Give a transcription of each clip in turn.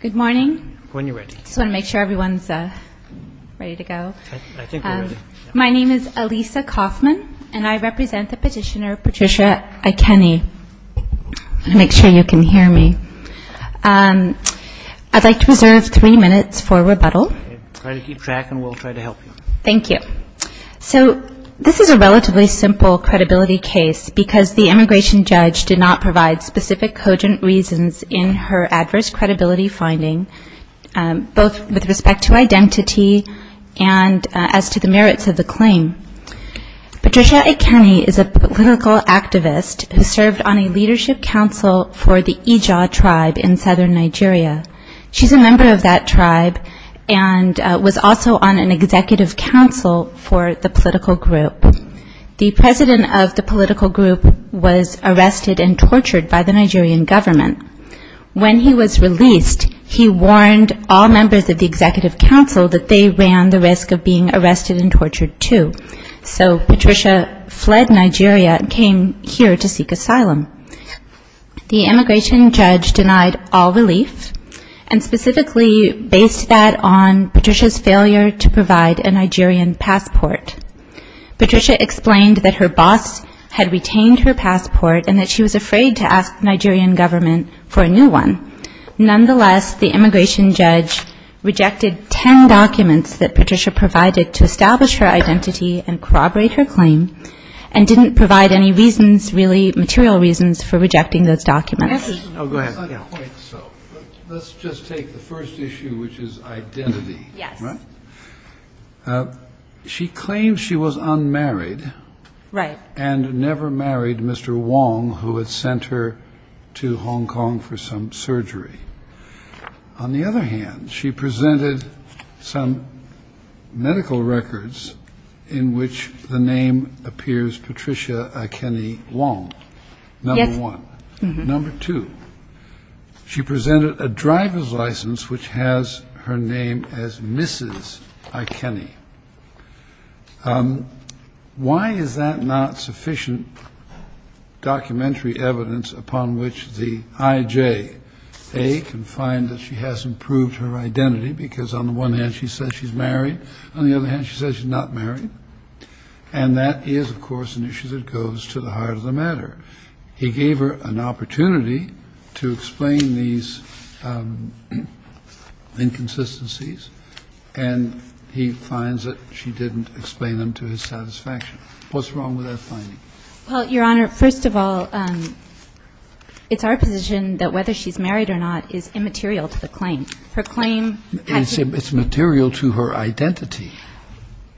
Good morning. I just want to make sure everyone's ready to go. My name is Alisa Kaufman and I represent the petitioner Patricia Ikeni. I'll make sure you can hear me. I'd like to reserve three minutes for rebuttal. Thank you. So this is a relatively simple credibility case because the immigration judge did not in her adverse credibility finding, both with respect to identity and as to the merits of the claim. Patricia Ikeni is a political activist who served on a leadership council for the Ija tribe in southern Nigeria. She's a member of that tribe and was also on an executive council for the political group. The immigration judge denied all relief and specifically based that on Patricia's failure to provide a Nigerian passport. Patricia explained that her boss had retained her passport and that she was afraid to ask the Nigerian government for a new one. Nonetheless, the immigration judge rejected ten documents that Patricia provided to establish her identity and corroborate her claim and didn't provide any reasons, really material reasons, for rejecting those documents. Let's just take the first issue which is identity. She claims she was unmarried and never married Mr. Wong who had sent her to Hong Kong for some surgery. On the other hand, she presented some medical records in which the name appears Patricia Ikeni Wong, number one. Number two, she presented a driver's license which has her name as Mrs. Ikeni. One of the documents that she presented was that she was unmarried. Why is that not sufficient documentary evidence upon which the IJA can find that she hasn't proved her identity because on the one hand she says she's married, on the other hand she says she's not married? And that is, of course, an issue that goes to the heart of the matter. He gave her an opportunity to explain these inconsistencies and he finds that she didn't explain them to his satisfaction. What's wrong with that finding? Well, Your Honor, first of all, it's our position that whether she's married or not is immaterial to the claim. Her claim has to be ---- It's material to her identity.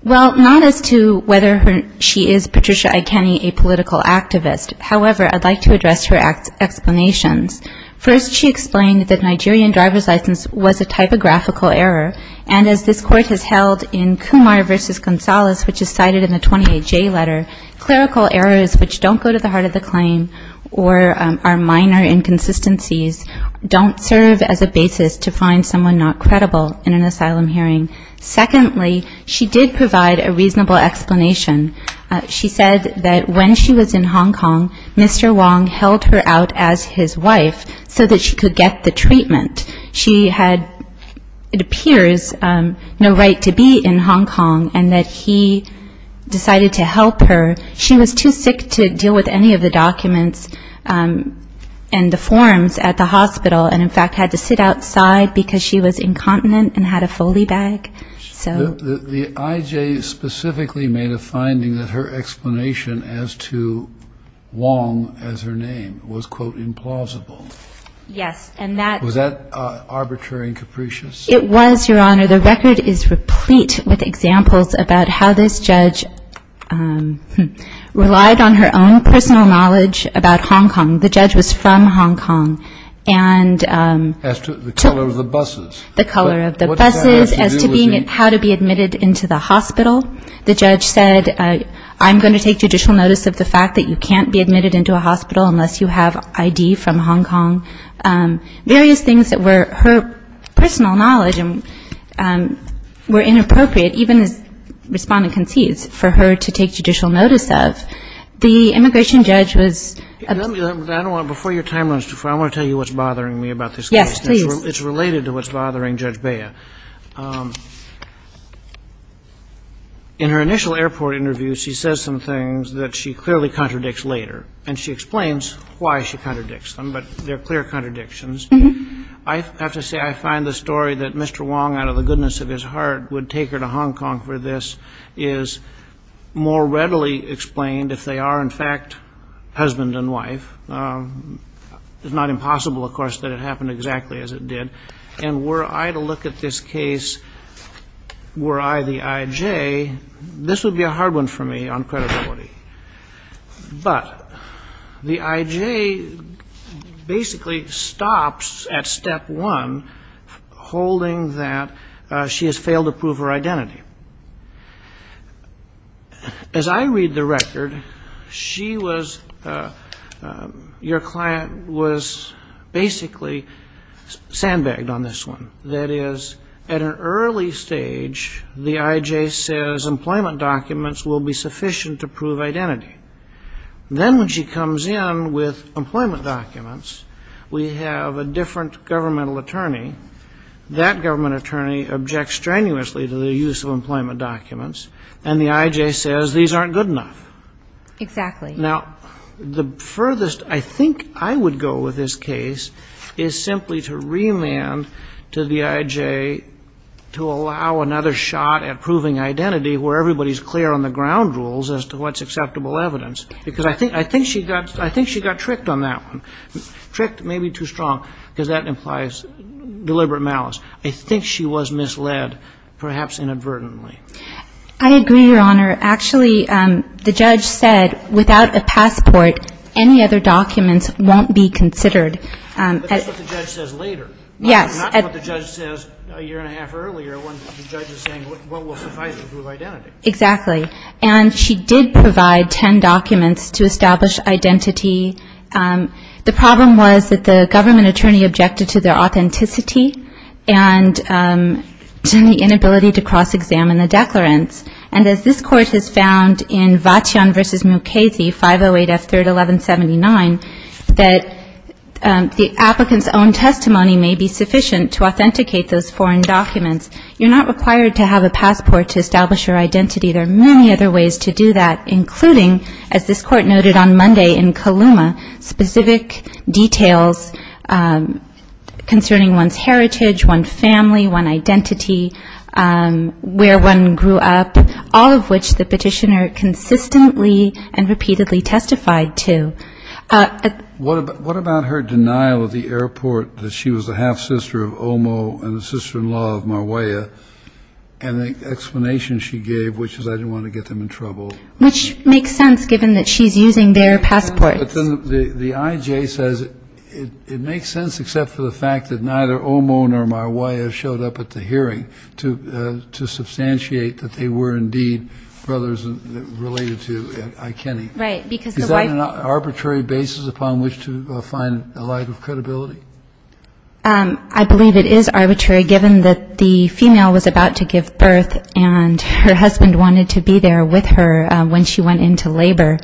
Well, not as to whether she is Patricia Ikeni, a political activist. However, I'd like to address her explanations. First, she explained that Nigerian driver's license was a typographical error. And as this Court has held in Kumar v. Gonzalez, which is cited in the 28J letter, clerical errors which don't go to the heart of the claim or are minor inconsistencies don't serve as a basis to find someone not credible in an asylum hearing. Secondly, she did provide a reasonable explanation. She said that when she was in Hong Kong, Mr. Wong held her out as his wife so that she could get the information that she had, it appears, no right to be in Hong Kong and that he decided to help her. She was too sick to deal with any of the documents and the forms at the hospital and, in fact, had to sit outside because she was incontinent and had a Foley bag. The IJ specifically made a finding that her explanation as to Wong as her name was, quote, implausible. Yes, and that Was that arbitrary and capricious? It was, Your Honor. The record is replete with examples about how this judge relied on her own personal knowledge about Hong Kong. The judge was from Hong Kong and As to the color of the buses. The color of the buses, as to being how to be admitted into the hospital. The judge said, I'm going to take judicial notice of the fact that you can't be personal knowledge and were inappropriate, even as Respondent concedes, for her to take judicial notice of. The immigration judge was Before your time runs too far, I want to tell you what's bothering me about this case. Yes, please. It's related to what's bothering Judge Bea. In her initial airport interview, she says some things that she clearly contradicts later, and she explains why she I have to say I find the story that Mr. Wong, out of the goodness of his heart, would take her to Hong Kong for this is more readily explained if they are, in fact, husband and wife. It's not impossible, of course, that it happened exactly as it did. And were I to look at this case, were I the IJ, this would be a hard one for me on credibility. But the IJ basically stops at step one, holding that she has failed to prove her identity. As I read the record, she was, your client was basically sandbagged on this one. That is, at an early stage, the IJ says employment documents will be sufficient to prove identity. Then when she comes in with employment documents, we have a different governmental attorney. That government attorney objects strenuously to the use of employment documents, and the IJ says these aren't good enough. Exactly. Now, the furthest I think I would go with this case is simply to remand to the IJ to look at the IJ's own rules as to what's acceptable evidence, because I think she got tricked on that one, tricked maybe too strong, because that implies deliberate malice. I think she was misled, perhaps inadvertently. I agree, Your Honor. Actually, the judge said without a passport, any other documents won't be considered. But that's what the judge says later, not what the judge says a year and a half earlier when the judge is saying what will suffice to prove identity. Exactly. And she did provide ten documents to establish identity. The problem was that the government attorney objected to their authenticity and to the inability to cross-examine the declarants. And as this Court has found in Vachion v. Mukasey, 508 F. 3rd, 1179, that the applicant's own testimony may be sufficient to authenticate those foreign documents. You're not required to have a passport to establish your identity. There are many other ways to do that, including, as this Court noted on Monday in Kaluma, specific details concerning one's heritage, one's family, one's identity, where one grew up, all of which the petitioner consistently and repeatedly testified to. What about her denial at the airport that she was a half-sister of Omo and a sister-in-law of Marwaya, and the explanation she gave, which is I didn't want to get them in trouble? Which makes sense, given that she's using their passports. But then the I.J. says it makes sense except for the fact that neither Omo nor Marwaya showed up at the hearing to substantiate that they were indeed brothers related to I. Kenny. Is that an arbitrary basis upon which to find a lack of credibility? I believe it is arbitrary, given that the female was about to give birth and her husband wanted to be there with her when she went into labor.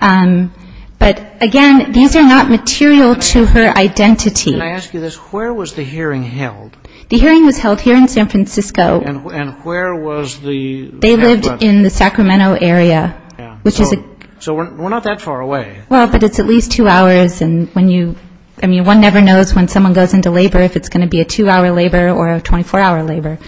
But, again, these are not material to her identity. Can I ask you this? Where was the hearing held? The hearing was held here in San Francisco. And where was the... They lived in the Sacramento area, which is a... So we're not that far away. Well, but it's at least two hours, and one never knows when someone goes into labor if it's going to be a two-hour labor or a 24-hour labor.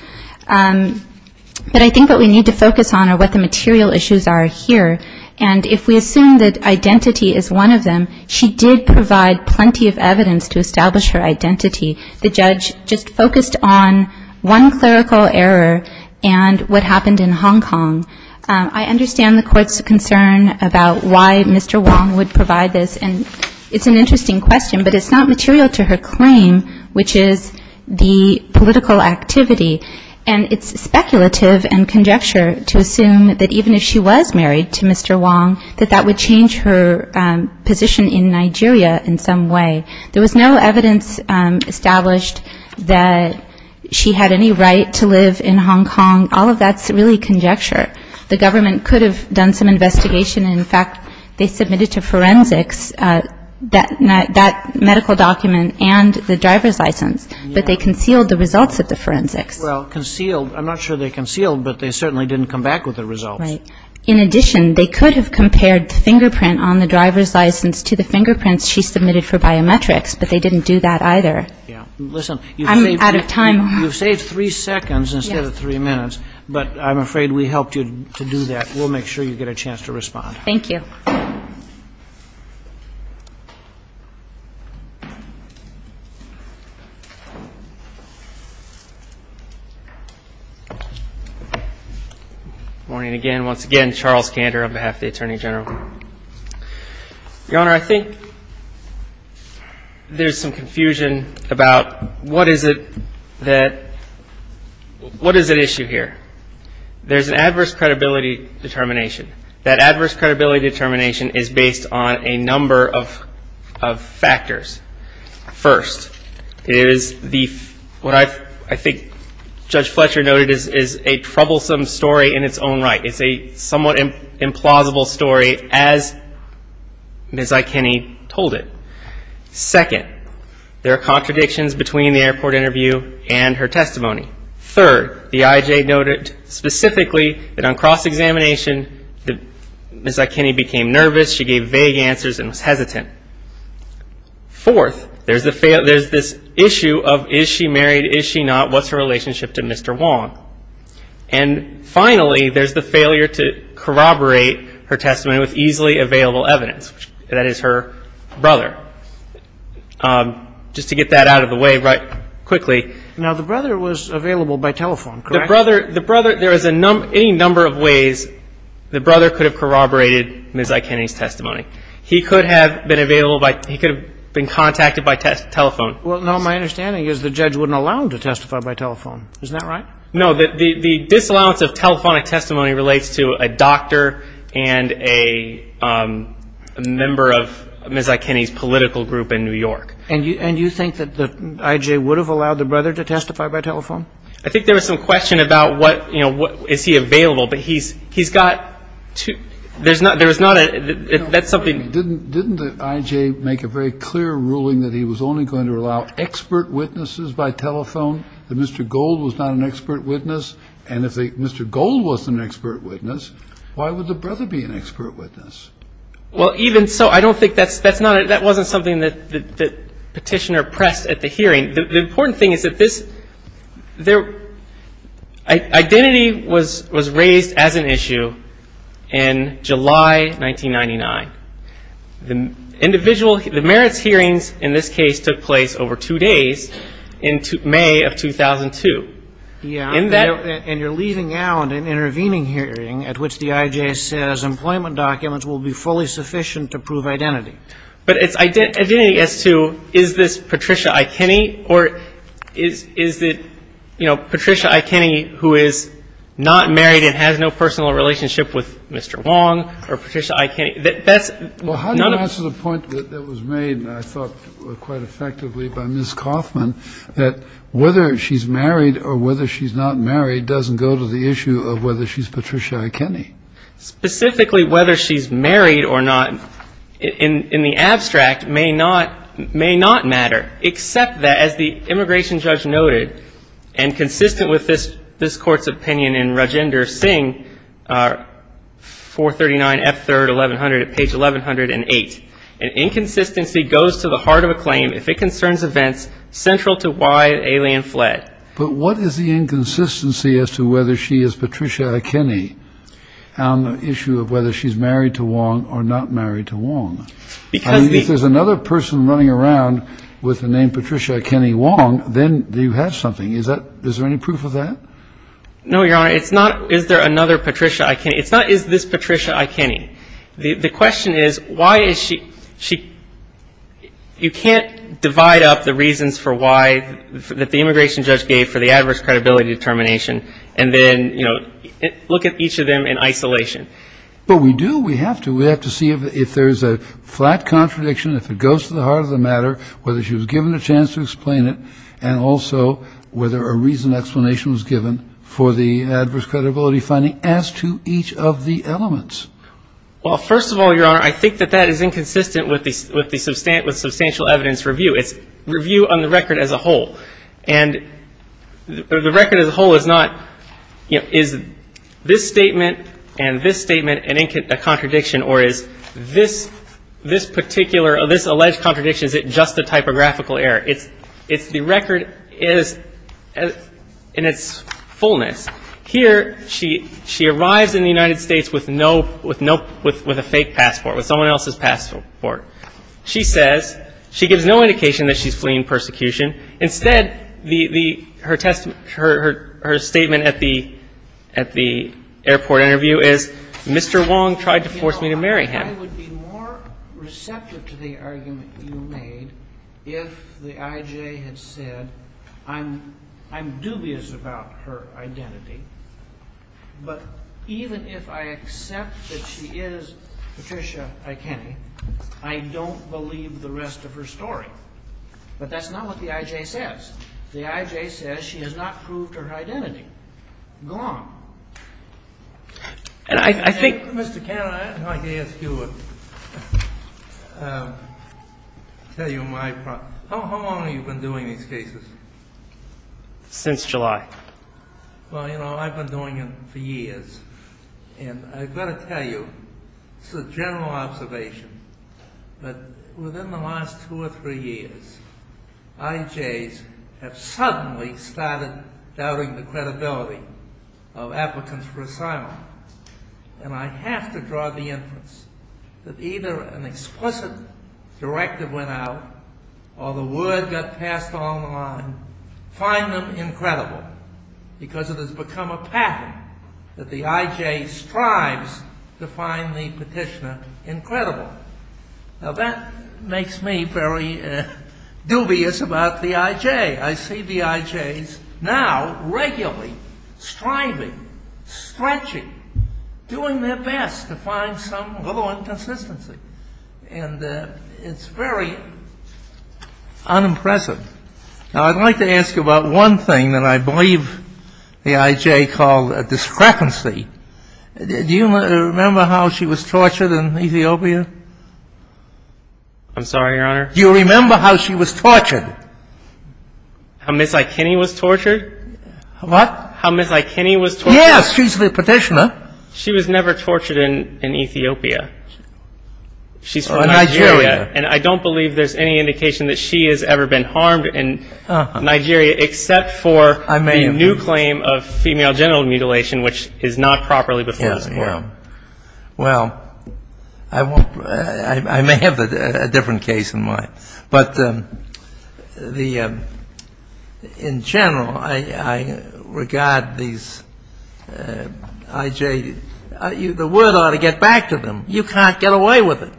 But I think what we need to focus on are what the material issues are here. And if we assume that identity is one of them, she did provide plenty of evidence to establish her identity. The judge just focused on one clerical error and what happened in Hong Kong. I understand the Court's concern about why Mr. Wong would provide this. And it's an interesting question, but it's not material to her claim, which is the political activity. And it's speculative and conjecture to assume that even if she was married to Mr. Wong, that that would change her position in Nigeria in some way. There was no evidence established that she had any right to live in Hong Kong. All of that's really conjecture. The government could have done some investigation. In fact, they submitted to forensics that medical document and the driver's license, but they concealed the results at the forensics. Well, concealed. I'm not sure they concealed, but they certainly didn't come back with the results. Right. In addition, they could have compared the fingerprint on the driver's license to the fingerprints she submitted for biometrics, but they didn't do that either. You've saved three seconds instead of three minutes, but I'm afraid we helped you to do that. We'll make sure you get a chance to respond. Good morning again. Once again, Charles Kander on behalf of the Attorney General. Your Honor, I think there's some confusion about what is it that, what is at issue here? There's an adverse credibility determination. That adverse credibility determination is based on a number of factors. First, it is the, what I think Judge Fletcher noted is a troublesome story in its own right. It's a somewhat implausible story as Ms. Ikeni told it. Second, there are contradictions between the airport interview and her testimony. Third, the IJ noted specifically that on cross-examination, Ms. Ikeni became nervous. She gave vague answers and was hesitant. Fourth, there's this issue of is she married, is she not, what's her relationship to Mr. Wong? And finally, there's the failure to corroborate her testimony with easily available evidence. That is her brother. Just to get that out of the way right quickly. Now, the brother was available by telephone, correct? The brother, there is a number, any number of ways the brother could have corroborated Ms. Ikeni's testimony. He could have been available by, he could have been contacted by telephone. Well, now my understanding is the judge wouldn't allow him to testify by telephone. Isn't that right? No, the disallowance of telephonic testimony relates to a doctor and a member of Ms. Ikeni's political group in New York. And you think that the IJ would have allowed the brother to testify by telephone? I think there was some question about what, you know, is he available? But he's got two, there's not a, that's something. Didn't the IJ make a very clear ruling that he was only going to allow expert witnesses by telephone, that Mr. Gold was not an expert witness? And if Mr. Gold was an expert witness, why would the brother be an expert witness? Well, even so, I don't think that's, that's not, that wasn't something that the petitioner pressed at the hearing. The important thing is that this, there, identity was raised as an issue in July 1999. The individual, the merits hearings in this case took place over two days in May of 2002. Yeah. And you're leaving out an intervening hearing at which the IJ says employment documents will be fully sufficient to prove identity. But it's identity as to is this Patricia Ikeni or is, is it, you know, Patricia Ikeni who is not married and has no personal relationship with Mr. Wong or Patricia Ikeni? That's none of the. Well, how do you answer the point that was made, I thought, quite effectively by Ms. Kaufman, that whether she's married or whether she's not married doesn't go to the issue of whether she's Patricia Ikeni? Specifically, whether she's married or not, in the abstract, may not, may not matter, except that, as the immigration judge noted, and consistent with this, this Court's opinion in Rajender Singh, 439 F3rd 1100 at page 1108, an inconsistency goes to the heart of a claim if it concerns events central to why an alien fled. But what is the inconsistency as to whether she is Patricia Ikeni on the issue of whether she's married to Wong or not married to Wong? Because the. I mean, if there's another person running around with the name Patricia Ikeni Wong, then you have something. Is that, is there any proof of that? No, Your Honor, it's not is there another Patricia Ikeni. It's not is this Patricia Ikeni. The question is, why is she, you can't divide up the reasons for why, that the immigration judge gave for the adverse credibility determination, and then, you know, look at each of them in isolation. But we do, we have to, we have to see if there's a flat contradiction, if it goes to the heart of the matter, whether she was given a chance to explain it, and also whether a reasoned explanation was given for the adverse credibility finding as to each of the elements. Well, first of all, Your Honor, I think that that is inconsistent with the substantial evidence review. It's review on the record as a whole. And the record as a whole is not, you know, is this statement and this statement a contradiction, or is this particular, this alleged contradiction, is it just a typographical error? It's the record is in its fullness. Here, she arrives in the United States with no, with a fake passport, with someone else's passport. She says, she gives no indication that she's fleeing persecution. Instead, her statement at the airport interview is, Mr. Wong tried to force me to marry him. You know, I would be more receptive to the argument you made if the I.J. had said, I'm dubious about her identity, but even if I accept that she is Patricia Ikeni, I don't believe the rest of her story. But that's not what the I.J. says. The I.J. says she has not proved her identity. Go on. Mr. Cannon, I'd like to ask you, tell you my problem. How long have you been doing these cases? Since July. Well, you know, I've been doing them for years, and I've got to tell you, it's a general observation, that within the last two or three years, I.J.'s have suddenly started doubting the credibility of applicants for asylum. And I have to draw the inference that either an explicit directive went out, or the word got passed along the line, find them incredible, because it has become a pattern that the I.J. strives to find the petitioner incredible. Now, that makes me very dubious about the I.J. I see the I.J.'s now regularly striving, stretching, doing their best to find some little inconsistency. And it's very unimpressive. Now, I'd like to ask you about one thing that I believe the I.J. called a discrepancy. Do you remember how she was tortured in Ethiopia? I'm sorry, Your Honor. Do you remember how she was tortured? How Ms. Ikeni was tortured? What? How Ms. Ikeni was tortured? Yes. She's the petitioner. She was never tortured in Ethiopia. She's from Nigeria. Nigeria. And I don't believe there's any indication that she has ever been harmed in Nigeria, except for the new claim of female genital mutilation, which is not properly before this Court. Yes. Well, I may have a different case in mind. But in general, I regard these I.J. The word ought to get back to them. You can't get away with it.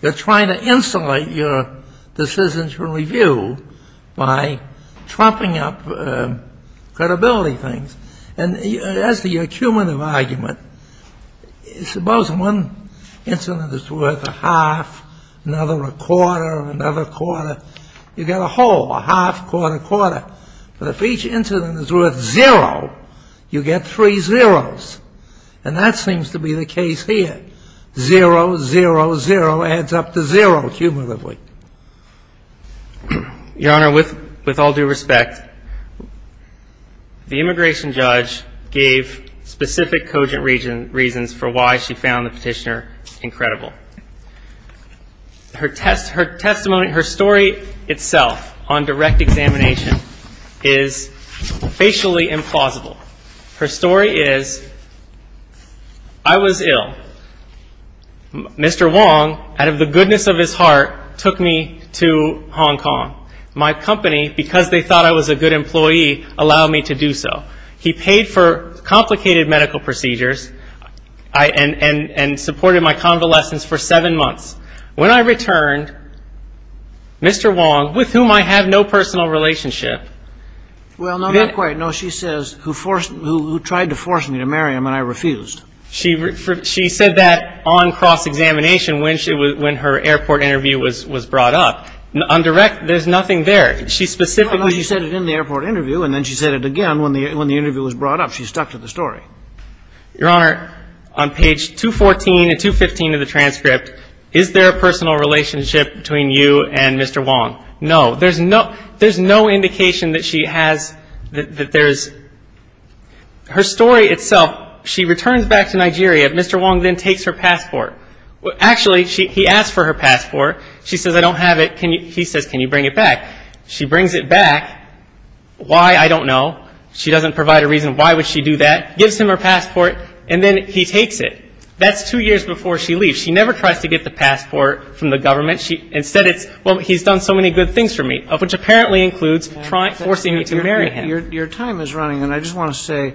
They're trying to insulate your decision to review by trumping up credibility things. And as to your cumulative argument, suppose one incident is worth a half, another a quarter, another quarter. You've got a whole, a half, quarter, quarter. But if each incident is worth zero, you get three zeros. And that seems to be the case here. Zero, zero, zero adds up to zero cumulatively. Your Honor, with all due respect, the immigration judge gave specific cogent reasons for why she found the petitioner incredible. Her testimony, her story itself on direct examination is facially implausible. Her story is, I was ill. Mr. Wong, out of the goodness of his heart, took me to Hong Kong. My company, because they thought I was a good employee, allowed me to do so. He paid for complicated medical procedures and supported my convalescence for seven months. When I returned, Mr. Wong, with whom I have no personal relationship. Well, not quite. No, she says, who tried to force me to marry him and I refused. She said that on cross-examination when her airport interview was brought up. On direct, there's nothing there. She specifically said it in the airport interview and then she said it again when the interview was brought up. She stuck to the story. Your Honor, on page 214 and 215 of the transcript, is there a personal relationship between you and Mr. Wong? No. There's no indication that she has, that there's. Her story itself, she returns back to Nigeria. Mr. Wong then takes her passport. Actually, he asks for her passport. She says, I don't have it. He says, can you bring it back? She brings it back. Why, I don't know. She doesn't provide a reason why would she do that. Gives him her passport and then he takes it. That's two years before she leaves. She never tries to get the passport from the government. Instead, it's, well, he's done so many good things for me, which apparently includes forcing me to marry him. Your time is running, and I just want to say,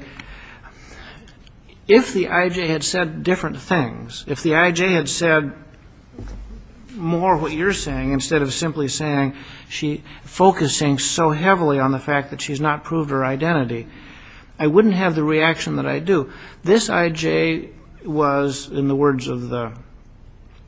if the I.J. had said different things, if the I.J. had said more of what you're saying instead of simply saying she, focusing so heavily on the fact that she's not proved her identity, I wouldn't have the reaction that I do. This I.J. was, in the words of the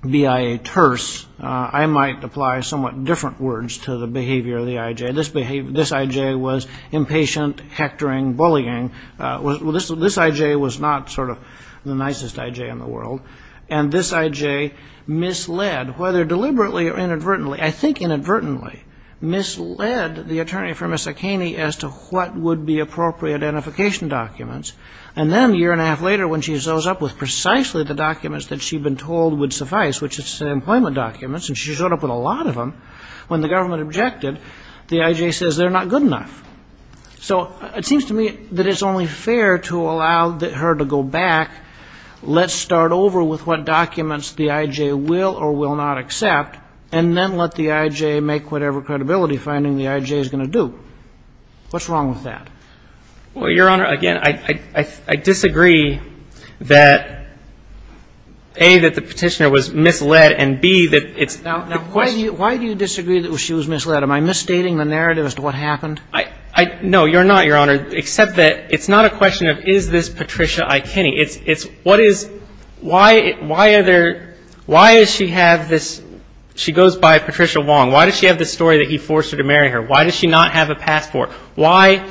BIA terse, I might apply somewhat different words to the behavior of the I.J. This I.J. was impatient, hectoring, bullying. This I.J. was not sort of the nicest I.J. in the world. And this I.J. misled, whether deliberately or inadvertently, I think inadvertently, misled the attorney for Ms. O'Kaney as to what would be appropriate identification documents. And then a year and a half later, when she shows up with precisely the documents that she'd been told would suffice, which is employment documents, and she showed up with a lot of them, when the government objected, the I.J. says they're not good enough. So it seems to me that it's only fair to allow her to go back, let's start over with what documents the I.J. will or will not accept, and then let the I.J. make whatever credibility finding the I.J. is going to do. What's wrong with that? Well, Your Honor, again, I disagree that, A, that the petitioner was misled, and, B, that it's the question of the I.J. I disagree that she was misled. Am I misstating the narrative as to what happened? No, you're not, Your Honor, except that it's not a question of is this Patricia I.Kaney. It's what is why are there – why does she have this – she goes by Patricia Wong. Why does she have this story that he forced her to marry her? Why does she not have a passport? Why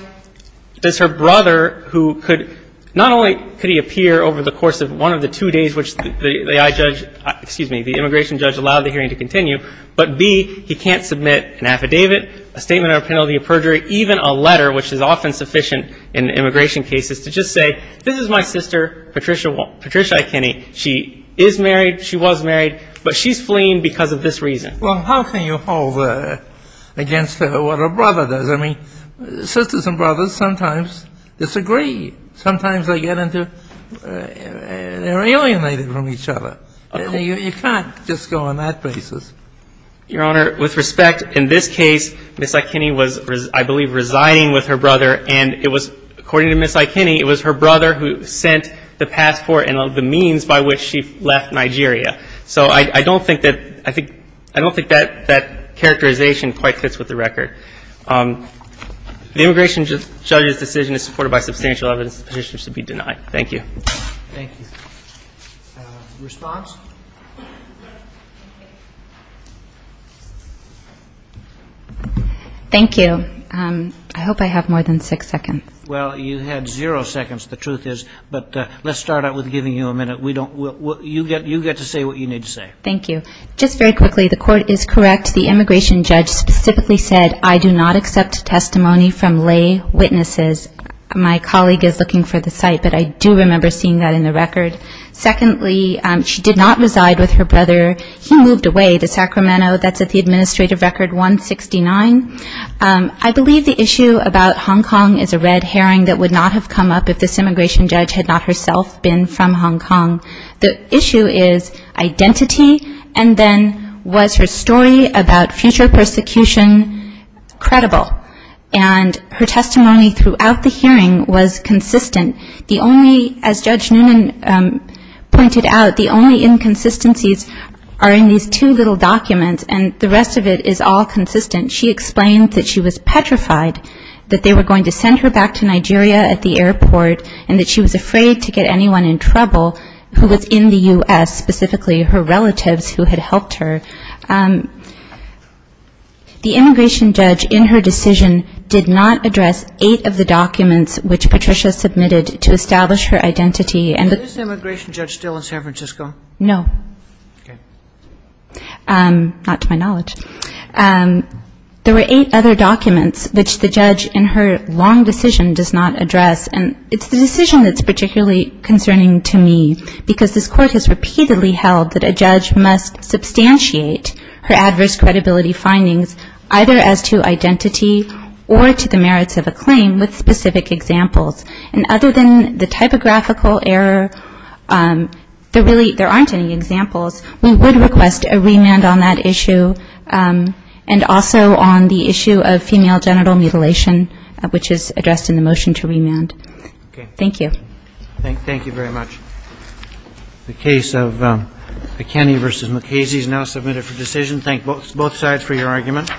does her brother, who could – not only could he appear over the course of one of the two days which the I.J. – excuse me, the immigration judge allowed the hearing to continue, but, B, he can't submit an affidavit, a statement of a penalty of perjury, even a letter, which is often sufficient in immigration cases to just say, this is my sister Patricia I.Kaney. She is married. She was married. But she's fleeing because of this reason. Well, how can you hold against what her brother does? I mean, sisters and brothers sometimes disagree. Sometimes they get into – they're alienated from each other. You can't just go on that basis. Your Honor, with respect, in this case, Ms. I.Kaney was, I believe, resigning with her brother, and it was – according to Ms. I.Kaney, it was her brother who sent the passport and the means by which she left Nigeria. So I don't think that – I think – I don't think that that characterization quite fits with the record. The immigration judge's decision is supported by substantial evidence. The petitioner should be denied. Thank you. Thank you. Response? Thank you. I hope I have more than six seconds. Well, you had zero seconds, the truth is. But let's start out with giving you a minute. We don't – you get to say what you need to say. Thank you. Just very quickly, the court is correct. The immigration judge specifically said, I do not accept testimony from lay witnesses. My colleague is looking for the site, but I do remember seeing that in the record. Secondly, she did not reside with her brother. He moved away to Sacramento. That's at the administrative record 169. I believe the issue about Hong Kong is a red herring that would not have come up if this immigration judge had not herself been from Hong Kong. The issue is identity, and then was her story about future persecution credible? And her testimony throughout the hearing was consistent. The only – as Judge Noonan pointed out, the only inconsistencies are in these two little documents, and the rest of it is all consistent. She explained that she was petrified that they were going to send her back to Nigeria at the airport and that she was afraid to get anyone in trouble who was in the U.S., specifically her relatives who had helped her. The immigration judge in her decision did not address eight of the documents which Patricia submitted to establish her identity. Is the immigration judge still in San Francisco? No. Okay. Not to my knowledge. There were eight other documents which the judge in her long decision does not address, and it's the decision that's particularly concerning to me because this court has repeatedly held that a judge must substantiate her adverse credibility findings either as to identity or to the merits of a claim with specific examples. And other than the typographical error, there aren't any examples. We would request a remand on that issue and also on the issue of female genital mutilation, which is addressed in the motion to remand. Okay. Thank you. Thank you very much. The case of McKinney v. Mukasey is now submitted for decision. Thank both sides for your argument.